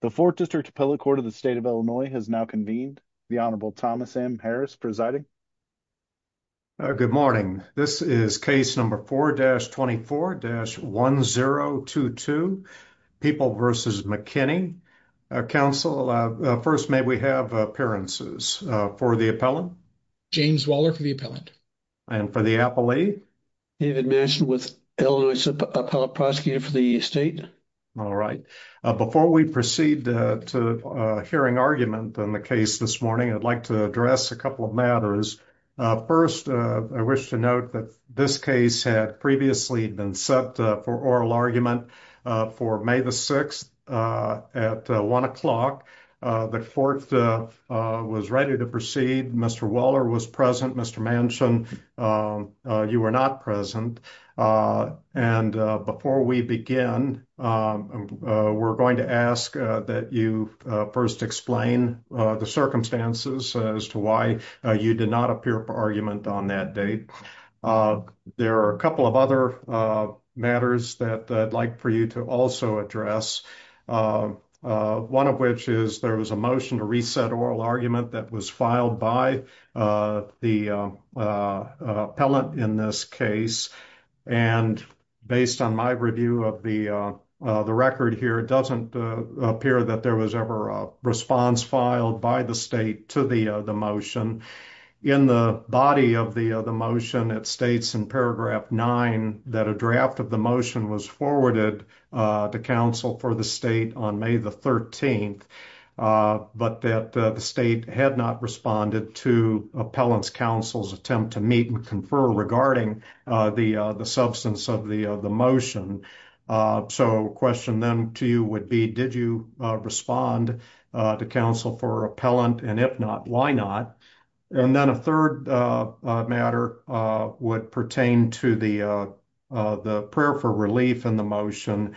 the fourth district appellate court of the state of illinois has now convened the honorable thomas m harris presiding good morning this is case number 4-24-1022 people versus mckinney council uh first may we have appearances uh for the appellant james waller for the appellant and for the appellee david mentioned with illinois appellate prosecutor for the state all right uh before we proceed uh to uh hearing argument on the case this morning i'd like to address a couple of matters uh first uh i wish to note that this case had previously been set for oral argument uh for may the 6th uh at one o'clock the court uh was ready to proceed mr waller was present mr mansion uh you were not present uh and before we begin um we're going to ask that you first explain the circumstances as to why you did not appear for argument on that date uh there are a couple of other uh matters that i'd like for you to also address uh one of which is there was a motion to reset oral argument that was filed by uh the uh uh appellant in this case and based on my review of the uh the record here it doesn't appear that there was ever a response filed by the state to the the motion in the body of the the motion it states in paragraph 9 that a draft of the motion was forwarded uh to council for the state on may the 13th uh but that the state had not responded to appellant's counsel's attempt to meet and confer regarding uh the uh the substance of the the motion uh so question then to you would be did you uh respond uh to counsel for appellant and if not why not and then a third uh matter uh would pertain to the uh the prayer for relief in the motion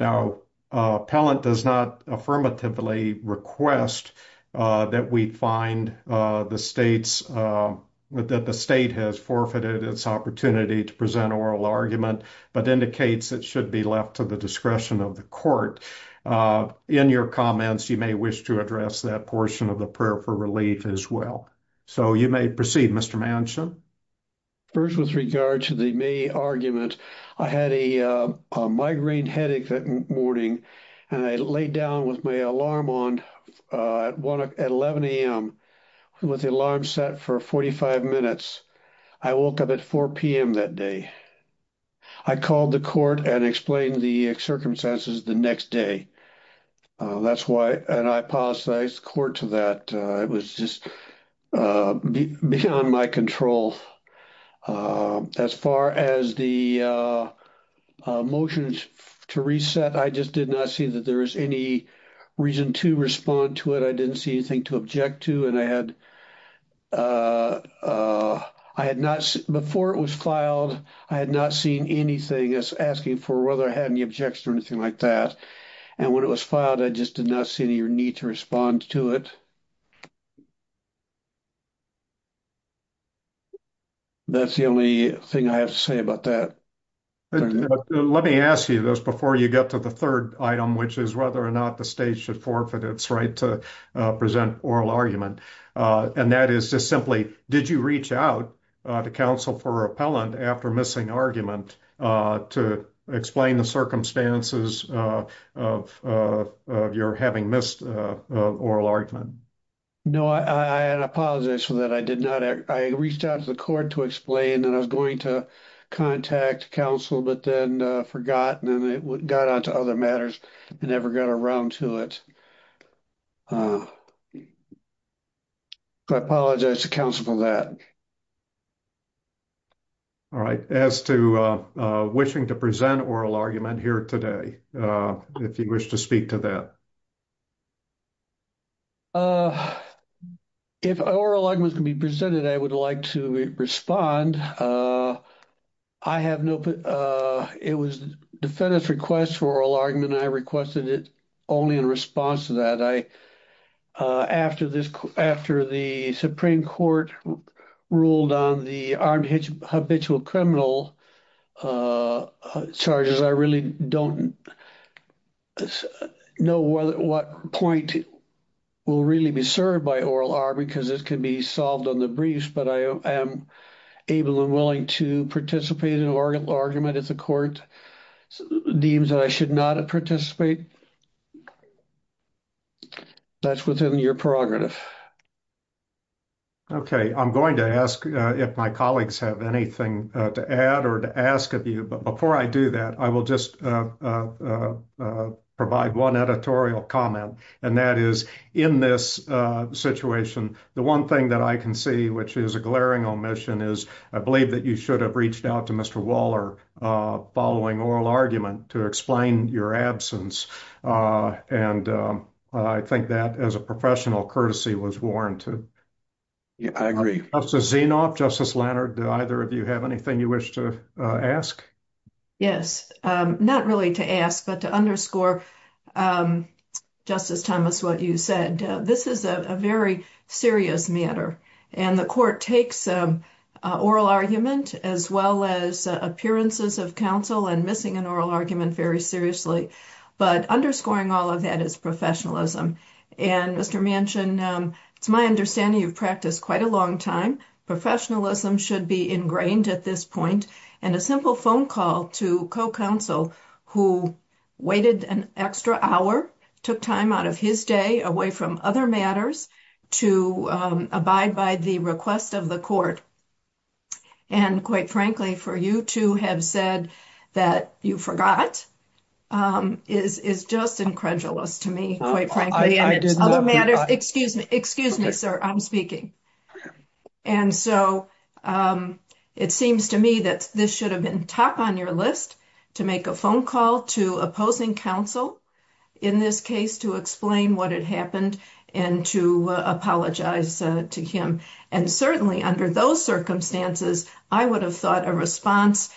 now uh appellant does not affirmatively request uh that we find uh the state's uh that the state has forfeited its opportunity to present oral argument but indicates it should be left to the discretion of the court uh in your comments you may wish to address that portion of the prayer for relief as well so you may proceed mr mansion first with regard to the may argument i had a uh a migraine headache that morning and i laid down with my alarm on uh at 11 a.m with the alarm set for 45 minutes i woke up at 4 p.m that day i called the court and explained the circumstances the next day uh that's why and i apologized court to that it was just uh beyond my control uh as far as the uh motions to reset i just did not see that there was any reason to respond to it i didn't see anything to object to and i had uh uh i had not before it was filed i had not seen anything as asking for whether i had any objection or anything like that and when it was filed i just did not see any need to respond to it that's the only thing i have to say about that let me ask you this before you get to the third item which is whether or not the state should forfeit its right to present oral argument uh and that is just simply did you reach out uh to counsel for repellent after missing argument uh to explain the circumstances uh of of your having missed uh oral argument no i i apologize for that i did not i reached out to the court to explain and i was going to contact counsel but then uh forgotten and it got onto other matters and never got around to it uh i apologize to counsel for that all right as to uh wishing to present oral argument here today uh if you wish to speak to that uh if oral arguments can be presented i would like to respond uh i have no uh it was defendant's request for oral argument i requested it only in response to that i uh after this after the supreme court ruled on the armed habitual criminal uh charges i really don't know whether what point will really be served by oral r because this can be solved on the briefs but i am able and willing to participate in an argument if the court deems that i should not participate that's within your prerogative okay i'm going to ask if my colleagues have anything to add or to ask of you but before i do that i will just uh uh provide one editorial comment and that is in this uh situation the one thing that i can see which is a glaring omission is i believe that you should have reached out to mr waller uh following oral argument to explain your absence uh and i think that as a professional courtesy was warranted yeah i agree justice zinoff justice leonard do either of you have anything you wish to ask yes um not really to ask but to underscore um justice thomas what you said this is a very serious matter and the court takes um oral argument as well as appearances of counsel and missing an oral argument very seriously but underscoring all of that is professionalism and mr mansion um it's my understanding you've practiced quite a long time professionalism should be ingrained at this point and a simple phone call to co-counsel who waited an extra hour took time out of his day away from other matters to abide by the request of the court and quite frankly for you to have said that you forgot um is is just incredulous to me quite frankly and other matters excuse me excuse me sir i'm speaking and so um it seems to me that this should have been top on your list to make a phone call to opposing counsel in this case to explain what had happened and to apologize to him and certainly under those circumstances i would have thought a response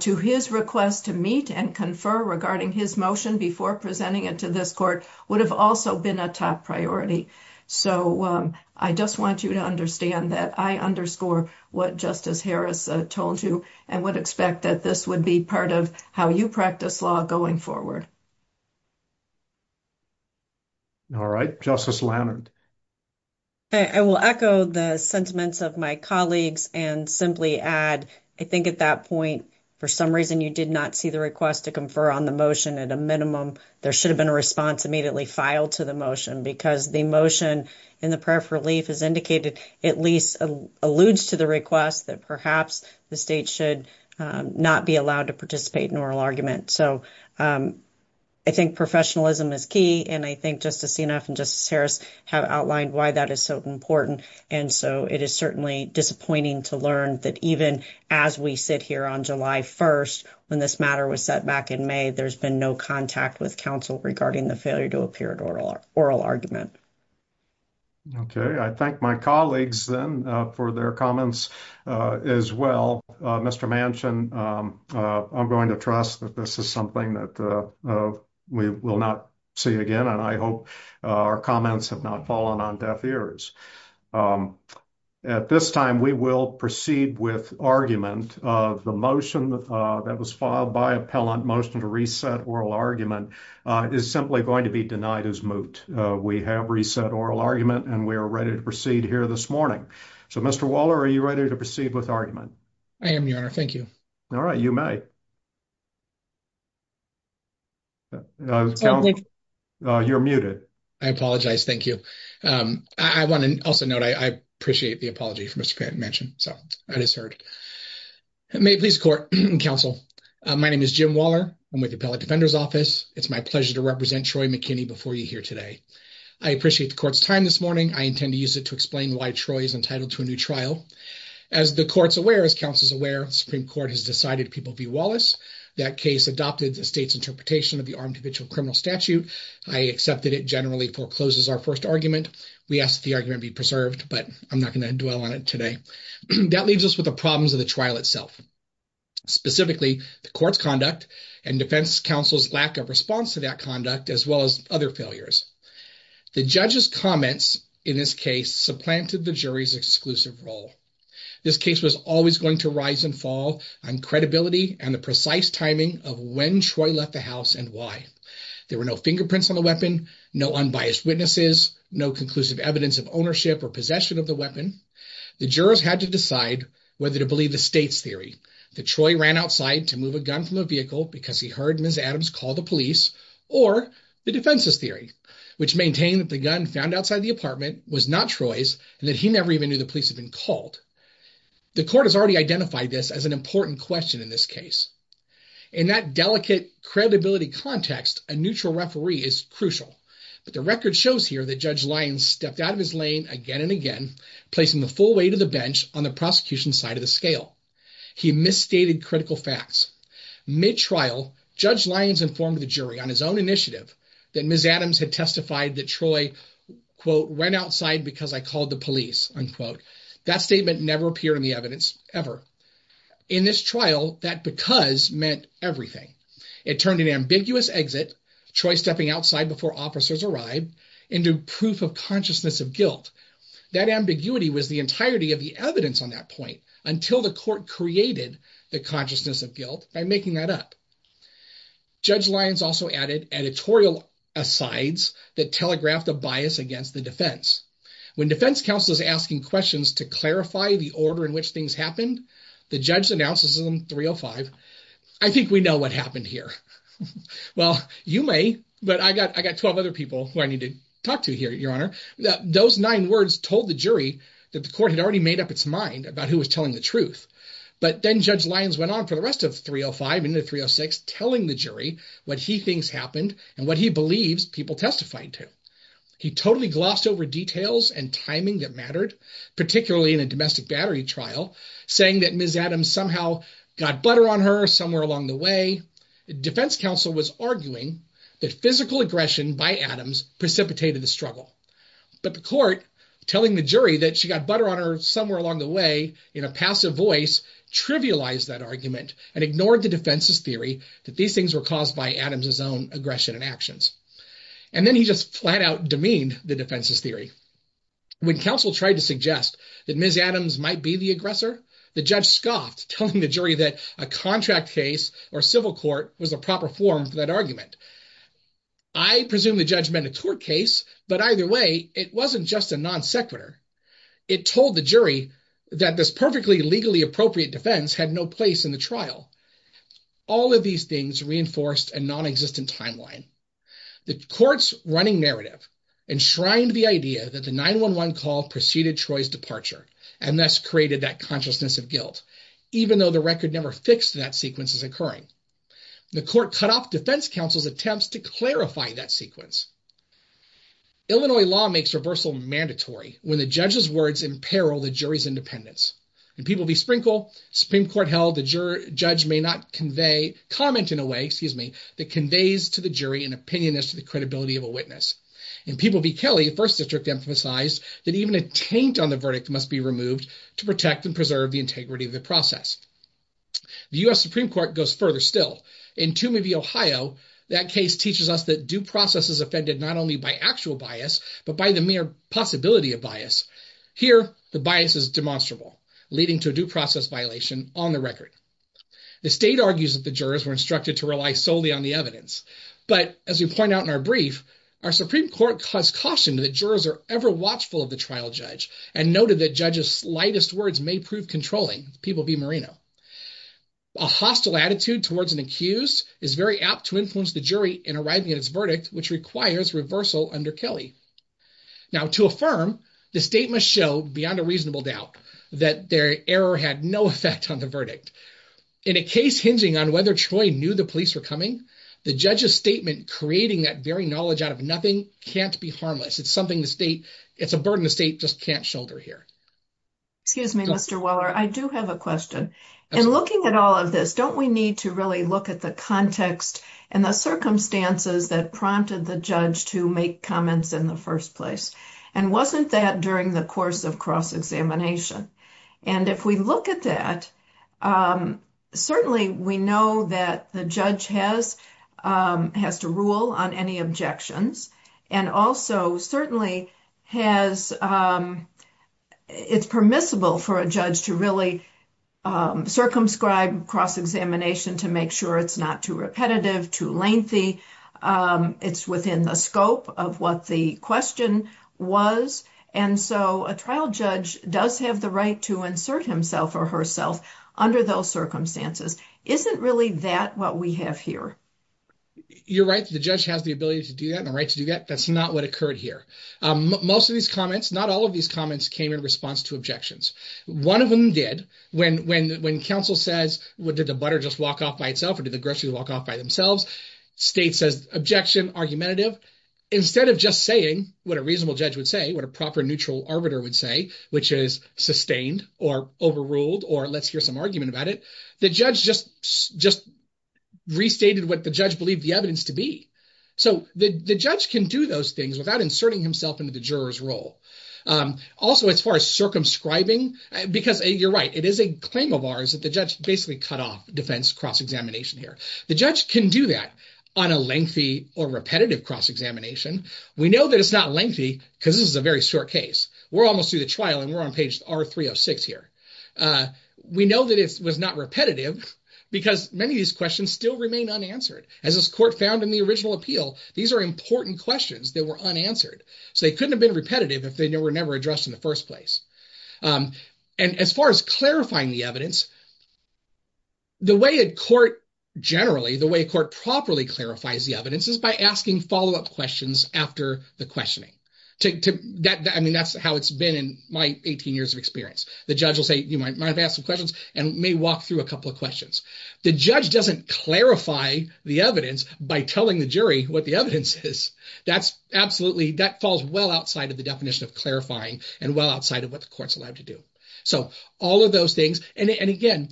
to his request to meet and confer regarding his motion before presenting it to this court would have also been a top priority so i just want you to understand that i underscore what justice harris told you and would expect that this would be part of how you practice law going forward all right justice lannard i will echo the sentiments of my colleagues and simply add i think at that point for some reason you did not see the request to confer on the motion at a minimum there should have been a response immediately filed to the motion because the motion in the prayer for relief is indicated at least alludes to the request that perhaps the state not be allowed to participate in oral argument so um i think professionalism is key and i think justice enough and justice harris have outlined why that is so important and so it is certainly disappointing to learn that even as we sit here on july 1st when this matter was set back in may there's been no contact with counsel regarding the failure to appear at oral oral argument okay i thank my colleagues then for their comments uh as well uh mr mansion um uh i'm going to trust that this is something that uh we will not see again and i hope our comments have not fallen on deaf ears um at this time we will proceed with argument of the motion that was filed by appellant motion to reset oral argument uh is simply going to be denied as moot we have reset oral argument and we are ready to proceed here this morning so mr waller are you ready to proceed with argument i am your honor thank you all right you may uh you're muted i apologize thank you um i want to also note i i appreciate the apology for mr pat mention so i just heard may please court and counsel my name is jim waller i'm with the appellate defender's office it's my pleasure to represent troy mckinney before you here today i appreciate the court's time this morning i intend to use it to explain why troy is entitled to a new trial as the court's aware as counsel's aware supreme court has decided people v wallace that case adopted the state's interpretation of the armed habitual criminal statute i accepted it generally forecloses our first argument we asked the argument be preserved but i'm not going to dwell on it today that leaves us with the problems of the trial itself specifically the court's conduct and defense counsel's lack of response to that conduct as well as other failures the judge's comments in this case supplanted the jury's exclusive role this case was always going to rise and fall on credibility and the precise timing of when troy left the house and why there were no fingerprints on the weapon no unbiased witnesses no conclusive evidence of ownership or possession of the weapon the jurors had to decide whether to believe the state's theory the troy ran outside to move a gun from a vehicle because he heard ms adams call the police or the defense's theory which maintained that the gun found outside the apartment was not troy's and that he never even knew the police had been called the court has already identified this as an important question in this case in that delicate credibility context a neutral referee is crucial but the record shows here that judge lyons stepped out of his lane again and again placing the full weight of the bench on the prosecution's side of the scale he misstated critical facts mid-trial judge lyons informed the jury on his own initiative that ms adams had testified that troy quote went outside because i called the police unquote that statement never appeared in the evidence ever in this trial that because meant everything it turned an ambiguous exit choice stepping outside before officers arrived into proof of consciousness of guilt that ambiguity was the entirety of the evidence on that point until the court created the consciousness of guilt by making that up judge lyons also added editorial asides that telegraphed a bias against the defense when defense counsel is asking questions to clarify the order in which things happened the judge announces them 305 i think we know what happened here well you may but i got i need to talk to here your honor those nine words told the jury that the court had already made up its mind about who was telling the truth but then judge lyons went on for the rest of 305 into 306 telling the jury what he thinks happened and what he believes people testified to he totally glossed over details and timing that mattered particularly in a domestic battery trial saying that ms adams somehow got butter on her somewhere along the way the defense counsel was arguing that physical aggression by adams precipitated the struggle but the court telling the jury that she got butter on her somewhere along the way in a passive voice trivialized that argument and ignored the defense's theory that these things were caused by adams's own aggression and actions and then he just flat out demeaned the defense's theory when counsel tried to suggest that ms adams might be the aggressor the judge scoffed telling the jury that a contract case or civil court was the proper form for that argument i presume the judgment a tort case but either way it wasn't just a non-sequitur it told the jury that this perfectly legally appropriate defense had no place in the trial all of these things reinforced a non-existent timeline the court's running narrative enshrined the idea that the 911 call preceded troy's departure and thus created that consciousness of guilt even though the record never fixed that sequence is occurring the court cut off defense counsel's attempts to clarify that sequence illinois law makes reversal mandatory when the judge's words imperil the jury's independence and people be sprinkle supreme court held the juror judge may not convey comment in a way excuse me that conveys to the jury an opinion as to the credibility of a witness and people be kelly first district emphasized that even a taint on the verdict must be removed to protect and preserve the integrity of the process the u.s supreme court goes further still in tomb of ohio that case teaches us that due process is offended not only by actual bias but by the mere possibility of bias here the bias is demonstrable leading to a due process violation on the record the state argues that the jurors were instructed to rely solely on the evidence but as we point out in our brief our supreme court caused caution that jurors are ever watchful of the trial judge and noted that judge's slightest words may prove controlling people be marino a hostile attitude towards an accused is very apt to influence the jury in arriving at its verdict which requires reversal under kelly now to affirm the statement showed beyond a reasonable doubt that their error had no effect on the verdict in a case hinging on whether troy knew the police were coming the judge's statement creating that knowledge out of nothing can't be harmless it's something the state it's a burden the state just can't shoulder here excuse me mr weller i do have a question and looking at all of this don't we need to really look at the context and the circumstances that prompted the judge to make comments in the first place and wasn't that during the course of cross-examination and if we look at that um certainly we know that the judge has um has to rule on any objections and also certainly has um it's permissible for a judge to really circumscribe cross-examination to make sure it's not too repetitive too lengthy um it's within the scope of what the question was and so a trial judge does have the right to insert himself or herself under those circumstances isn't really that what we have here you're right the judge has the ability to do that and the right to do that that's not what occurred here um most of these comments not all of these comments came in response to objections one of them did when when when counsel says what did the butter just walk off by itself or did the grocery walk off by themselves state says objection argumentative instead of just saying what a reasonable judge would say what a proper neutral arbiter would say which is sustained or overruled or let's hear some argument about it the judge just just restated what the judge believed the evidence to be so the the judge can do those things without inserting himself into the juror's role um also as far as circumscribing because you're right it is a claim of ours that the judge basically cut off defense cross-examination here the judge can do that on a lengthy or repetitive cross-examination we know that it's not lengthy because this is a very short case we're almost through the trial and we're on page r-306 here uh we know that it was not repetitive because many of these questions still remain unanswered as this court found in the original appeal these are important questions that were unanswered so they couldn't have been repetitive if they were never addressed in the first place um and as far as clarifying the evidence the way a court generally the way a court properly clarifies the evidence is by asking follow-up questions after the questioning to that i mean that's how it's been in my 18 years of experience the judge will say you might have asked some questions and may walk through a couple of questions the judge doesn't clarify the evidence by telling the jury what the evidence is that's absolutely that falls well outside of the definition of clarifying and well outside of what the court's allowed to do so all of those things and again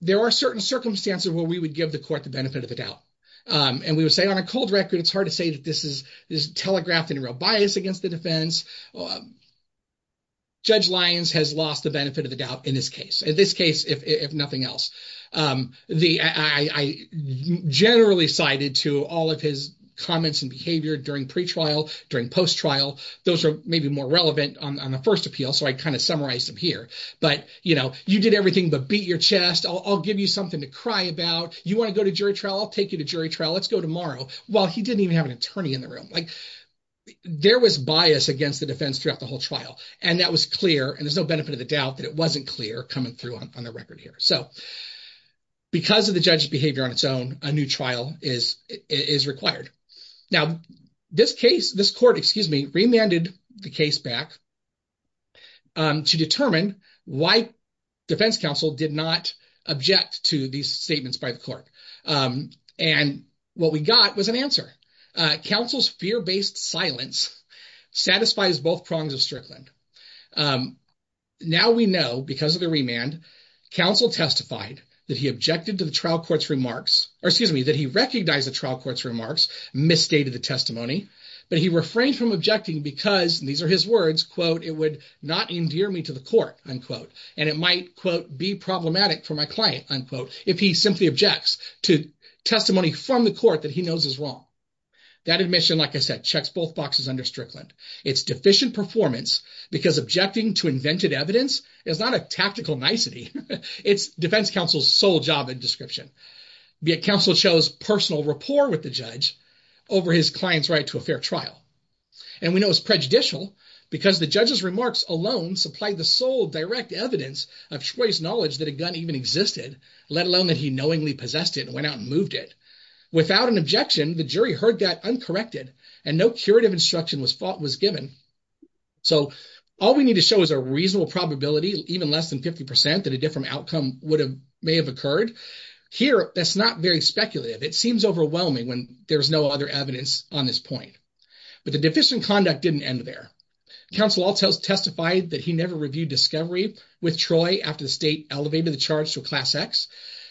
there are certain circumstances where we would give the court the benefit of the doubt um and we would say on a cold record it's hard to say that this is this telegraphed in a real bias against the defense um judge Lyons has lost the benefit of the doubt in this case in this case if if nothing else um the i i i generally cited to all of his comments and behavior during pre-trial during post-trial those are maybe more relevant on the first appeal so i kind of summarized them here but you know you did everything but beat your chest i'll give you something to cry about you want to go to jury trial i'll take you to jury trial let's go tomorrow well he didn't even have an attorney in the room like there was bias against the defense throughout the whole trial and that was clear and there's no benefit of the doubt that it wasn't clear coming through on the record here so because of the judge's behavior on its own a new trial is is required now this case this remanded the case back um to determine why defense counsel did not object to these statements by the court um and what we got was an answer uh counsel's fear-based silence satisfies both prongs of Strickland um now we know because of the remand counsel testified that he objected to the trial court's remarks or excuse me that he recognized the trial court's remarks misstated the testimony but he refrained from objecting because these are his words quote it would not endear me to the court unquote and it might quote be problematic for my client unquote if he simply objects to testimony from the court that he knows is wrong that admission like i said checks both boxes under Strickland it's deficient performance because objecting to invented evidence is not a tactical nicety it's defense counsel's sole job in description be it counsel shows personal rapport with the judge over his client's right to a fair trial and we know it's prejudicial because the judge's remarks alone supplied the sole direct evidence of choice knowledge that a gun even existed let alone that he knowingly possessed it went out and moved it without an objection the jury heard that uncorrected and no curative instruction was fought was given so all we need to show is a reasonable probability even less than 50 percent that a different outcome would have may have occurred here that's not very speculative it seems overwhelming when there's no other evidence on this point but the deficient conduct didn't end there counsel all tells testified that he never reviewed discovery with troy after the state elevated the charge to a class x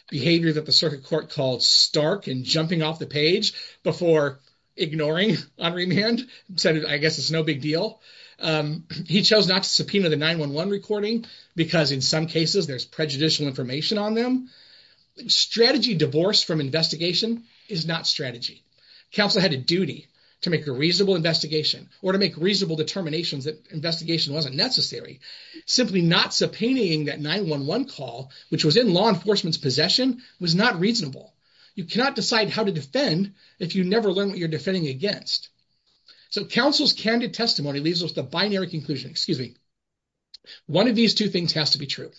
behavior that the circuit court called stark and jumping off the page before ignoring on remand said i guess it's no big deal um he chose not to subpoena the 9-1-1 recording because in some cases there's prejudicial information on them strategy divorce from investigation is not strategy counsel had a duty to make a reasonable investigation or to make reasonable determinations that investigation wasn't necessary simply not subpoenaing that 9-1-1 call which was in law enforcement's possession was not reasonable you cannot decide how to defend if you never learn what you're defending against so counsel's candid testimony leaves us the binary conclusion excuse me one of these two things has to be true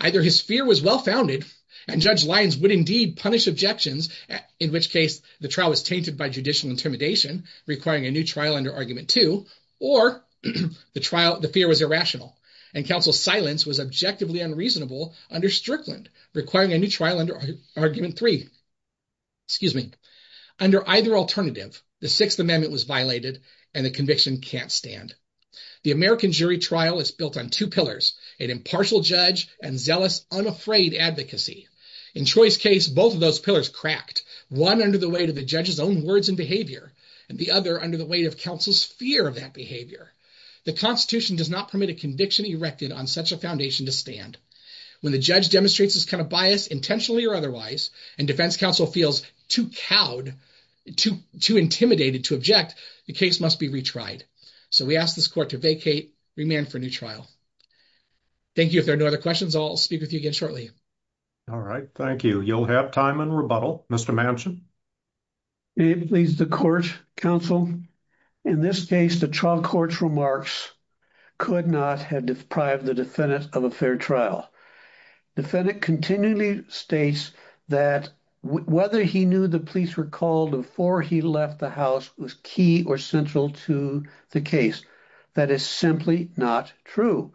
either his fear was well-founded and judge lyons would indeed punish objections in which case the trial was tainted by judicial intimidation requiring a new trial under argument two or the trial the fear was irrational and counsel's silence was objectively unreasonable under strickland requiring a new trial under argument three excuse me under either alternative the sixth amendment was violated and the conviction can't stand the american jury trial is built on two pillars an impartial judge and zealous unafraid advocacy in choice case both of those pillars cracked one under the weight of the judge's own words and behavior and the other under the weight of counsel's fear of that behavior the constitution does not permit a conviction erected on such a foundation to stand when the judge demonstrates this kind of bias intentionally or otherwise and defense counsel feels too cowed too too intimidated to object the case must be retried so we ask this court to vacate remand for a new trial thank you if there are no other questions i'll speak with you again shortly all right thank you you'll have time and rebuttal mr mansion it leaves the court counsel in this case the trial court's remarks could not have deprived the defendant of a fair trial defendant continually states that whether he knew the police were called before he left the house was key or central to the case that is simply not true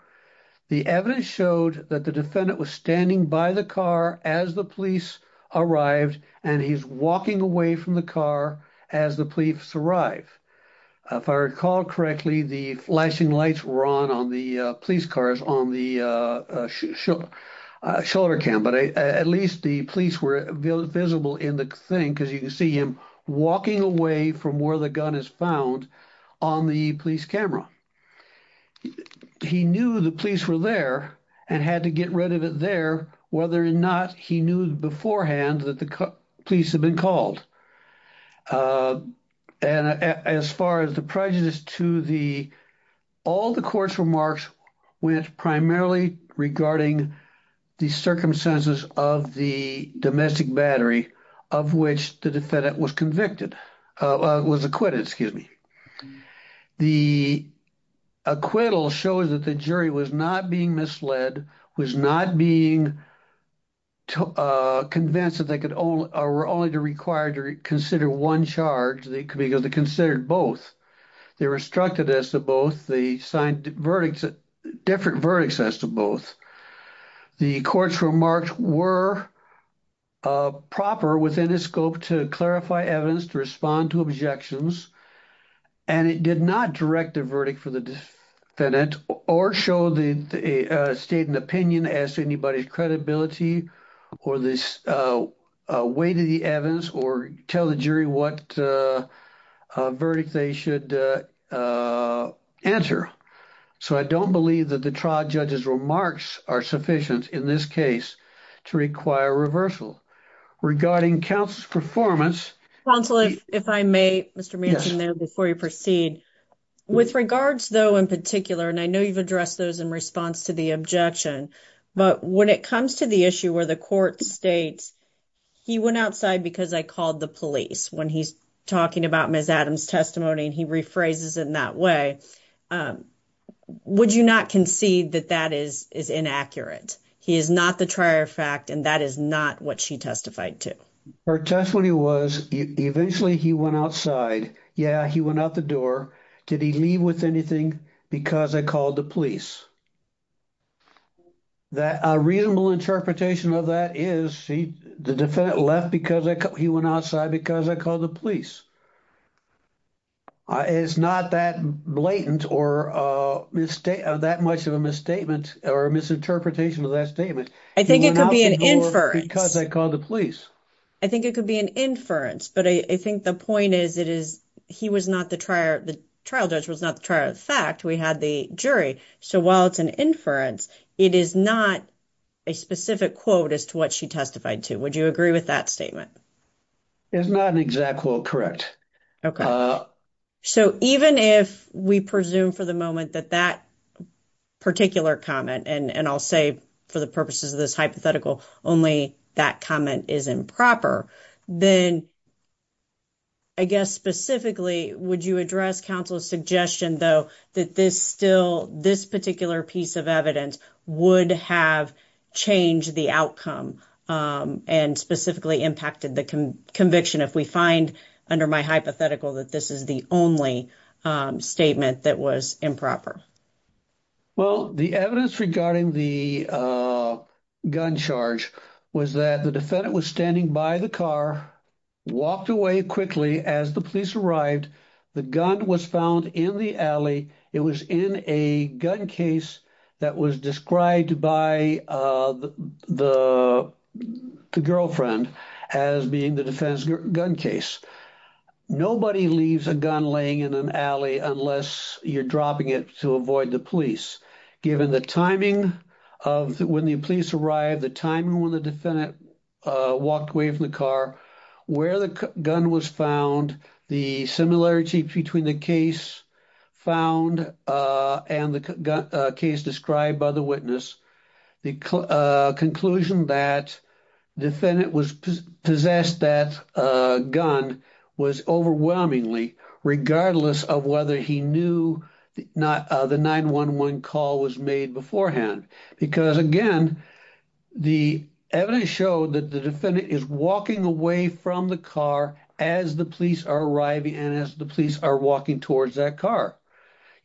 the evidence showed that the defendant was standing by the car as the police arrived and he's walking away from the car as the police arrived if i recall correctly the flashing lights were on on the police cars on the shoulder cam but at least the police were visible in the thing because you can see him walking away from where the gun is found on the police camera he knew the police were there and had to get rid of it there whether or not he knew beforehand that the police had been called and as far as the prejudice to the all the court's remarks went primarily regarding the circumstances of the domestic battery of which the defendant was convicted uh was acquitted excuse me the acquittal shows that the jury was not being misled was not being to uh convinced that they could only or were only required to consider one charge they could because they considered both they were instructed as to both the signed verdicts different verdicts as to both the court's remarks were uh proper within the scope to clarify evidence to respond to objections and it did not direct a verdict for the defendant or show the state an opinion as to in terms of the credibility or this uh weight of the evidence or tell the jury what uh a verdict they should uh answer so i don't believe that the trial judge's remarks are sufficient in this case to require reversal regarding counsel's performance counsel if i may mr manson there before you when it comes to the issue where the court states he went outside because i called the police when he's talking about ms adams testimony and he rephrases in that way um would you not concede that that is is inaccurate he is not the trier fact and that is not what she testified to her testimony was eventually he went outside yeah he went out the door did he leave with anything because i called the police that a reasonable interpretation of that is she the defendant left because i he went outside because i called the police uh it's not that blatant or uh mistake that much of a misstatement or a misinterpretation of that statement i think it could be an inference because i called the police i think it could be an inference but i i think the point is it is he was not the trial judge was not the trial fact we had the jury so while it's an inference it is not a specific quote as to what she testified to would you agree with that statement it's not an exact quote correct okay so even if we presume for the moment that that particular comment and and i'll say for the purposes of this hypothetical only that comment is improper then i guess specifically would you address counsel's suggestion though that this still this particular piece of evidence would have changed the outcome and specifically impacted the conviction if we find under my hypothetical that this is the only statement that was improper well the evidence regarding the uh gun charge was that the defendant was standing by the car walked away quickly as the police arrived the gun was found in the alley it was in a gun case that was described by uh the the girlfriend as being the defense gun case nobody leaves a gun laying in an alley unless you're dropping it to avoid the police given the timing of when the police arrived the timing when the defendant uh walked away from the car where the gun was found the similarity between the case found uh and the case described by the witness the uh conclusion that defendant was possessed that uh gun was overwhelmingly regardless of whether he knew not the 911 call was made beforehand because again the evidence showed that the defendant is walking away from the car as the police are arriving and as the police are walking towards that car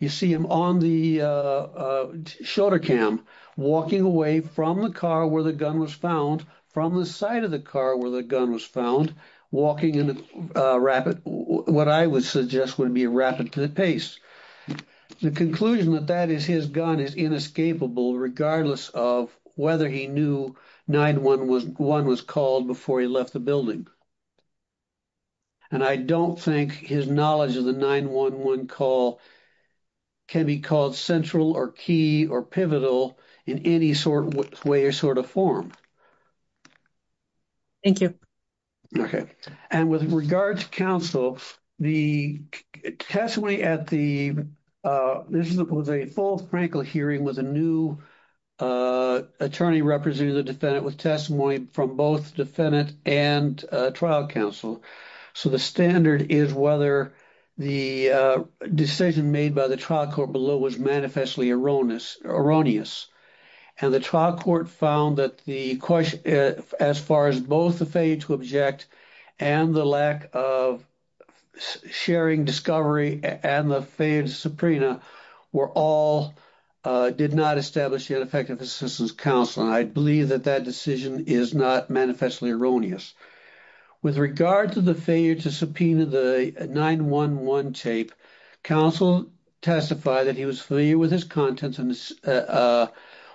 you see him on the uh shoulder cam walking away from the car where the gun was found from the side of the car where the gun was found walking in a rapid what i would suggest would be a rapid to the pace the conclusion that that is his gun is inescapable regardless of whether he knew 911 was called before he left the building and i don't think his knowledge of the 911 call can be called central or key or pivotal in any sort of way or sort of form thank you okay and with regards counsel the testimony at the uh this was a full franklin hearing with a new uh attorney representing the defendant with testimony from both defendant and uh trial counsel so the standard is whether the uh decision made by the trial court below was manifestly erroneous erroneous and the trial court found that the question as far as both the failure to object and the lack of sharing discovery and the failed subpoena were all uh did not establish the ineffective assistance counsel and i believe that that decision is not manifestly erroneous with regard to the failure to subpoena the 911 tape counsel testified that he was familiar with his contents and uh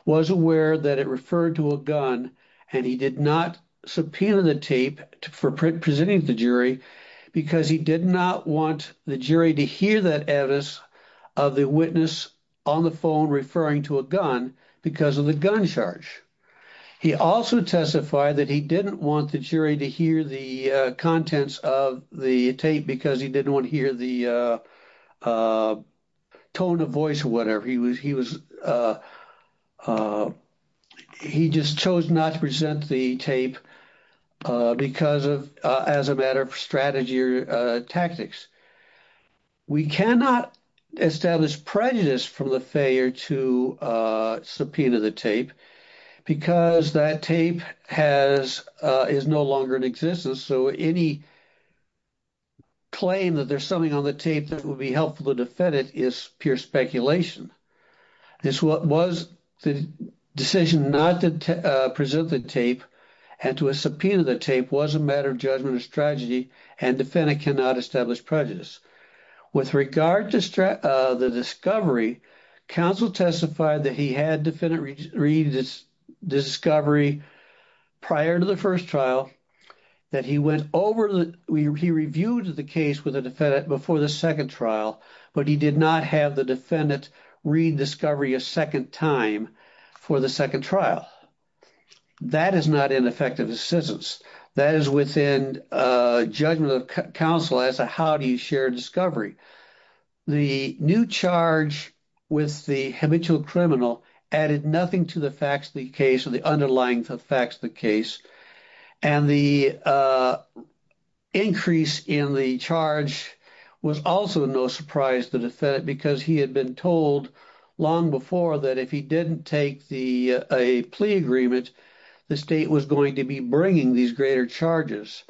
was aware that it referred to a gun and he did not subpoena the tape for presenting the jury because he did not want the jury to hear that evidence of the witness on the phone referring to a gun because of the gun charge he also testified that he didn't want the jury to hear the contents of the tape because he didn't want to hear the uh uh tone of voice or whatever he was he was uh uh he just chose not to present the tape uh because of uh as a matter of strategy or uh tactics we cannot establish prejudice from the failure to uh subpoena the tape because that tape has uh is no longer in existence so any claim that there's something on the tape that would be helpful to defend it is pure speculation this was the decision not to present the tape and to a subpoena the tape was a matter of judgment or strategy and defendant cannot establish prejudice with regard to uh the discovery counsel testified that he had defendant read this discovery prior to the first trial that he went over the he reviewed the case with a defendant before the second trial but he did not have the defendant read discovery a second time for the second trial that is not ineffective assistance that is within a judgment of counsel as a how do you share discovery the new charge with the habitual criminal added nothing to the facts of the case or the underlying effects of the case and the uh increase in the charge was also no surprise to the defendant because he had been told long before that if he didn't take the a plea agreement the state was going to be bringing these greater charges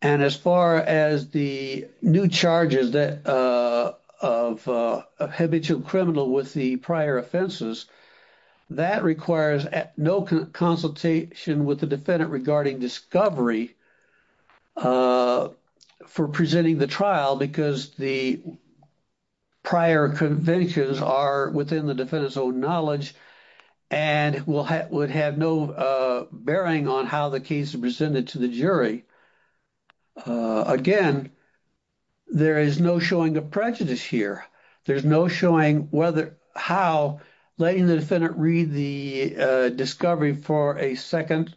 and as far as the new charges that uh of uh habitual criminal with the prior offenses that requires at no consultation with the defendant regarding discovery uh for presenting the trial because the prior conventions are within the defendant's own and will have would have no uh bearing on how the case is presented to the jury uh again there is no showing of prejudice here there's no showing whether how letting the defendant read the uh discovery for a second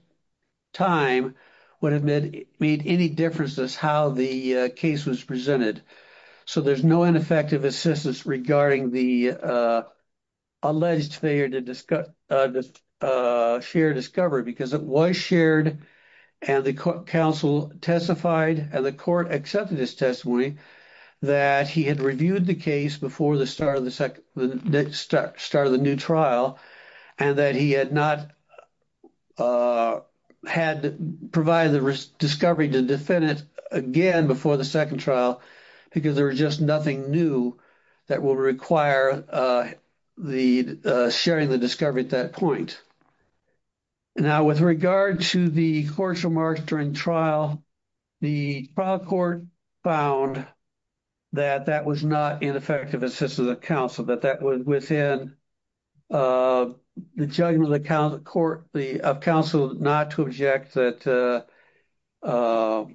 time would have made made any difference as how the case was presented so there's no ineffective assistance regarding the uh alleged failure to share discovery because it was shared and the counsel testified and the court accepted his testimony that he had reviewed the case before the start of the second the next start of the trial and that he had not uh had provided the discovery to defend it again before the second trial because there was just nothing new that will require uh the uh sharing the discovery at that point now with regard to the court's remarks during trial the trial court found that that was not ineffective assistance of counsel that that was within uh the judgment of the court the of counsel not to object that uh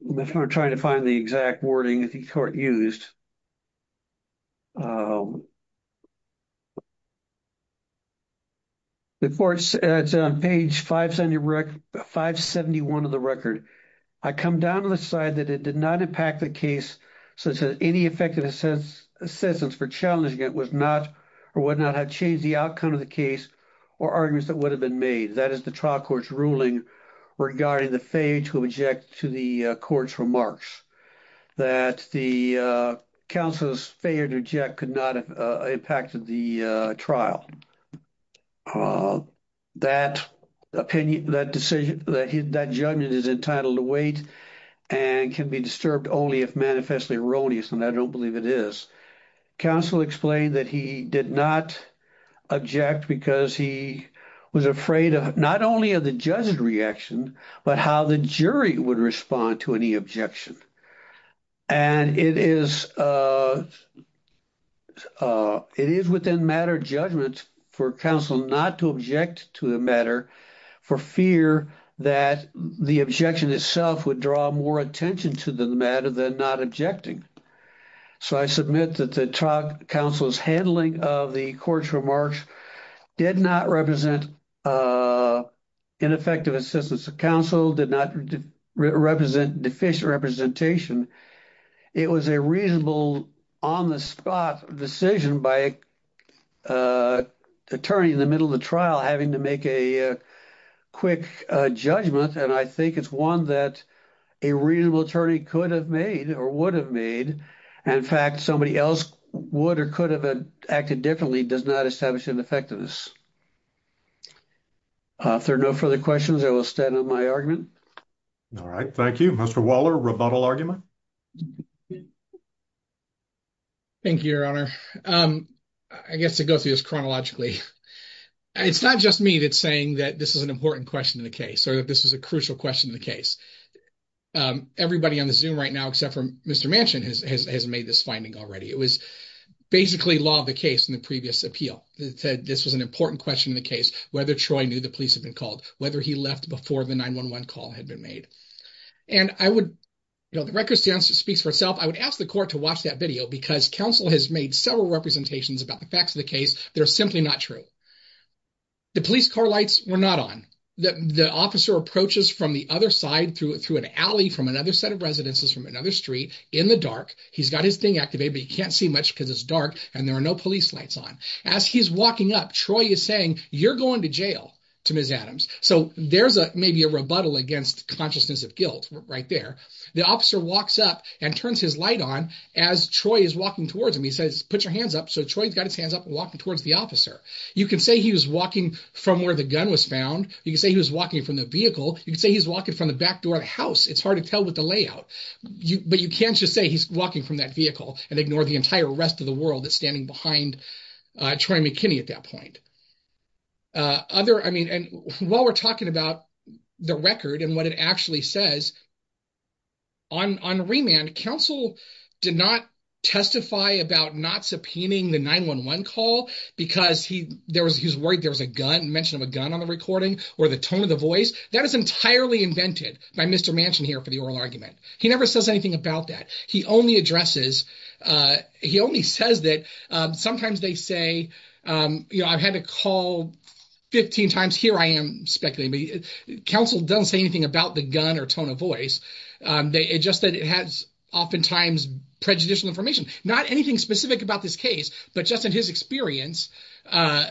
we're trying to find the exact wording that the court used before it's on page 570 record 571 of the record i come down to the side that it did not impact the case such as any effective assistance for challenging it was not or would not have changed the outcome of the case or arguments that would have been made that is the trial court's ruling regarding the failure to object to the court's remarks that the uh counsel's failure to object could not have impacted the uh trial uh that opinion that decision that judgment is entitled to wait and can be disturbed only if manifestly erroneous and i don't believe it is counsel explained that he did not object because he was afraid of not only of the judge's reaction but how the jury would respond to any objection and it is uh uh it is within matter for counsel not to object to the matter for fear that the objection itself would draw more attention to the matter than not objecting so i submit that the trial counsel's handling of the court's remarks did not represent uh ineffective assistance of counsel did not represent deficient representation it was a reasonable on the spot decision by a attorney in the middle of the trial having to make a quick judgment and i think it's one that a reasonable attorney could have made or would have made in fact somebody else would or could have acted differently does not establish an effectiveness uh if there are no further questions i will stand on my argument all right thank you waller rebuttal argument thank you your honor um i guess to go through this chronologically it's not just me that's saying that this is an important question in the case or that this is a crucial question in the case um everybody on the zoom right now except for mr mansion has made this finding already it was basically law of the case in the previous appeal that said this was an important question in the case whether troy knew the police had been called whether he left before the 911 call had been made and i would you know the record stands it speaks for itself i would ask the court to watch that video because counsel has made several representations about the facts of the case that are simply not true the police car lights were not on the the officer approaches from the other side through through an alley from another set of residences from another street in the dark he's got his thing activated but he can't see much because it's dark and there are no police lights on as he's walking up troy is saying you're going to jail to ms adams so there's a maybe a against consciousness of guilt right there the officer walks up and turns his light on as troy is walking towards him he says put your hands up so troy's got his hands up and walking towards the officer you can say he was walking from where the gun was found you can say he was walking from the vehicle you can say he's walking from the back door of the house it's hard to tell what the layout you but you can't just say he's walking from that vehicle and ignore the entire rest of the world that's standing behind uh troy mckinney at that point uh other i mean and while we're talking about the record and what it actually says on on remand counsel did not testify about not subpoenaing the 911 call because he there was he's worried there was a gun mention of a gun on the recording or the tone of the voice that is entirely invented by mr mansion here for the oral argument he never says anything about that he only addresses uh he only says that um sometimes they say um you know i've had to call 15 times here i am speculating but counsel don't say anything about the gun or tone of voice um they just that it has oftentimes prejudicial information not anything specific about this case but just in his experience uh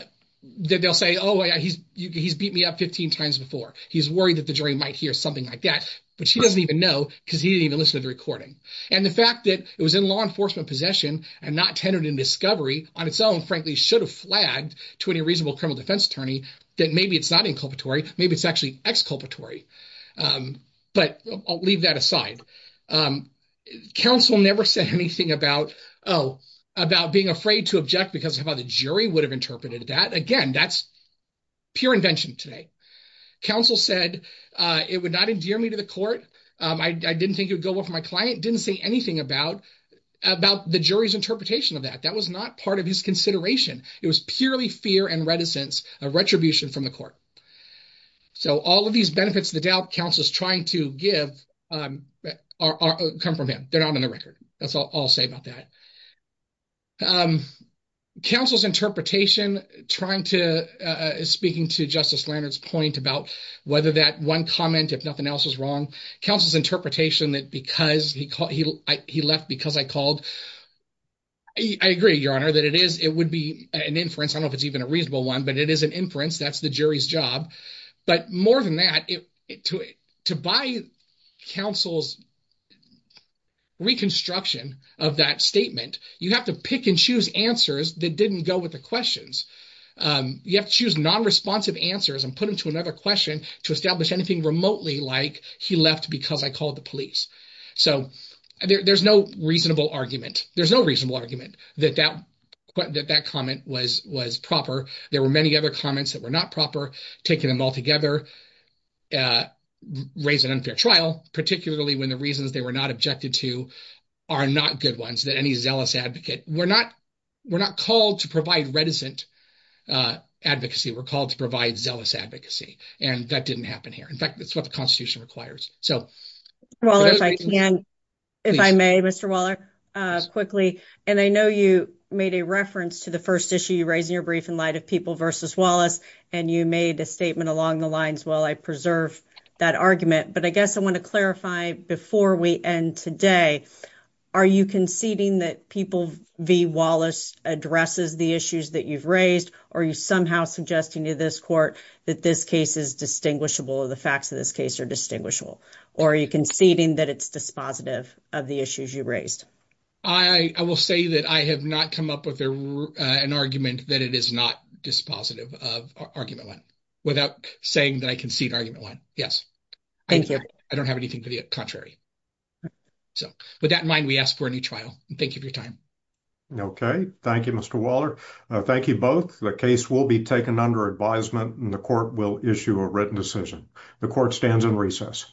that they'll say oh yeah he's he's beat me up 15 times before he's worried that the jury might hear something like that but she doesn't even know because he didn't even listen to the recording and the fact that it was in law enforcement possession and not tended in discovery on its own frankly should have flagged to any reasonable criminal defense attorney that maybe it's not inculpatory maybe it's actually exculpatory um but i'll leave that aside um counsel never said anything about oh about being afraid to object because of how the jury would have interpreted that again that's pure invention today counsel said uh it would not endear me to the court um i didn't think it would go well for my client didn't say anything about about the jury's interpretation of that that was not part of his consideration it was purely fear and reticence a retribution from the court so all of these benefits the doubt counsel is trying to give um are come from him they're not on the record that's all i'll say about that um counsel's interpretation trying to uh speaking to justice lander's point about whether that one comment if nothing else is wrong counsel's interpretation that because he called he he left because i called i agree your honor that it is it would be an inference i don't know if it's even a reasonable one but it is an inference that's the jury's job but more than that it to it to buy counsel's reconstruction of that statement you have to pick and choose answers that didn't go with the questions um you have to choose non-responsive answers and put them to another question to establish anything remotely like he left because i called the police so there's no reasonable argument there's no reasonable argument that that that comment was was proper there were many other comments that were not proper taking them all together uh raise an unfair trial particularly when the reasons they were not objected to are not good ones that any zealous advocate we're not we're not called to provide reticent uh advocacy we're called to provide zealous advocacy and that didn't happen here in fact that's what the constitution requires so well if i can if i may mr waller uh quickly and i know you made a reference to the first issue you raised in your brief in light of people versus wallace and you made a statement along the lines well i preserve that argument but i guess i want to clarify before we end today are you conceding that people v wallace addresses the issues that you've raised are you somehow suggesting to this court that this case is distinguishable the facts of this case are distinguishable or are you conceding that it's dispositive of the issues you raised i i will say that i have not come up with an argument that it is not dispositive of argument one without saying that i concede argument one yes thank you i don't have anything to the contrary so with that in mind we ask for a new trial and thank you for your time okay thank you mr waller thank you both the case will be taken under advisement and the court will issue a written decision the court stands in recess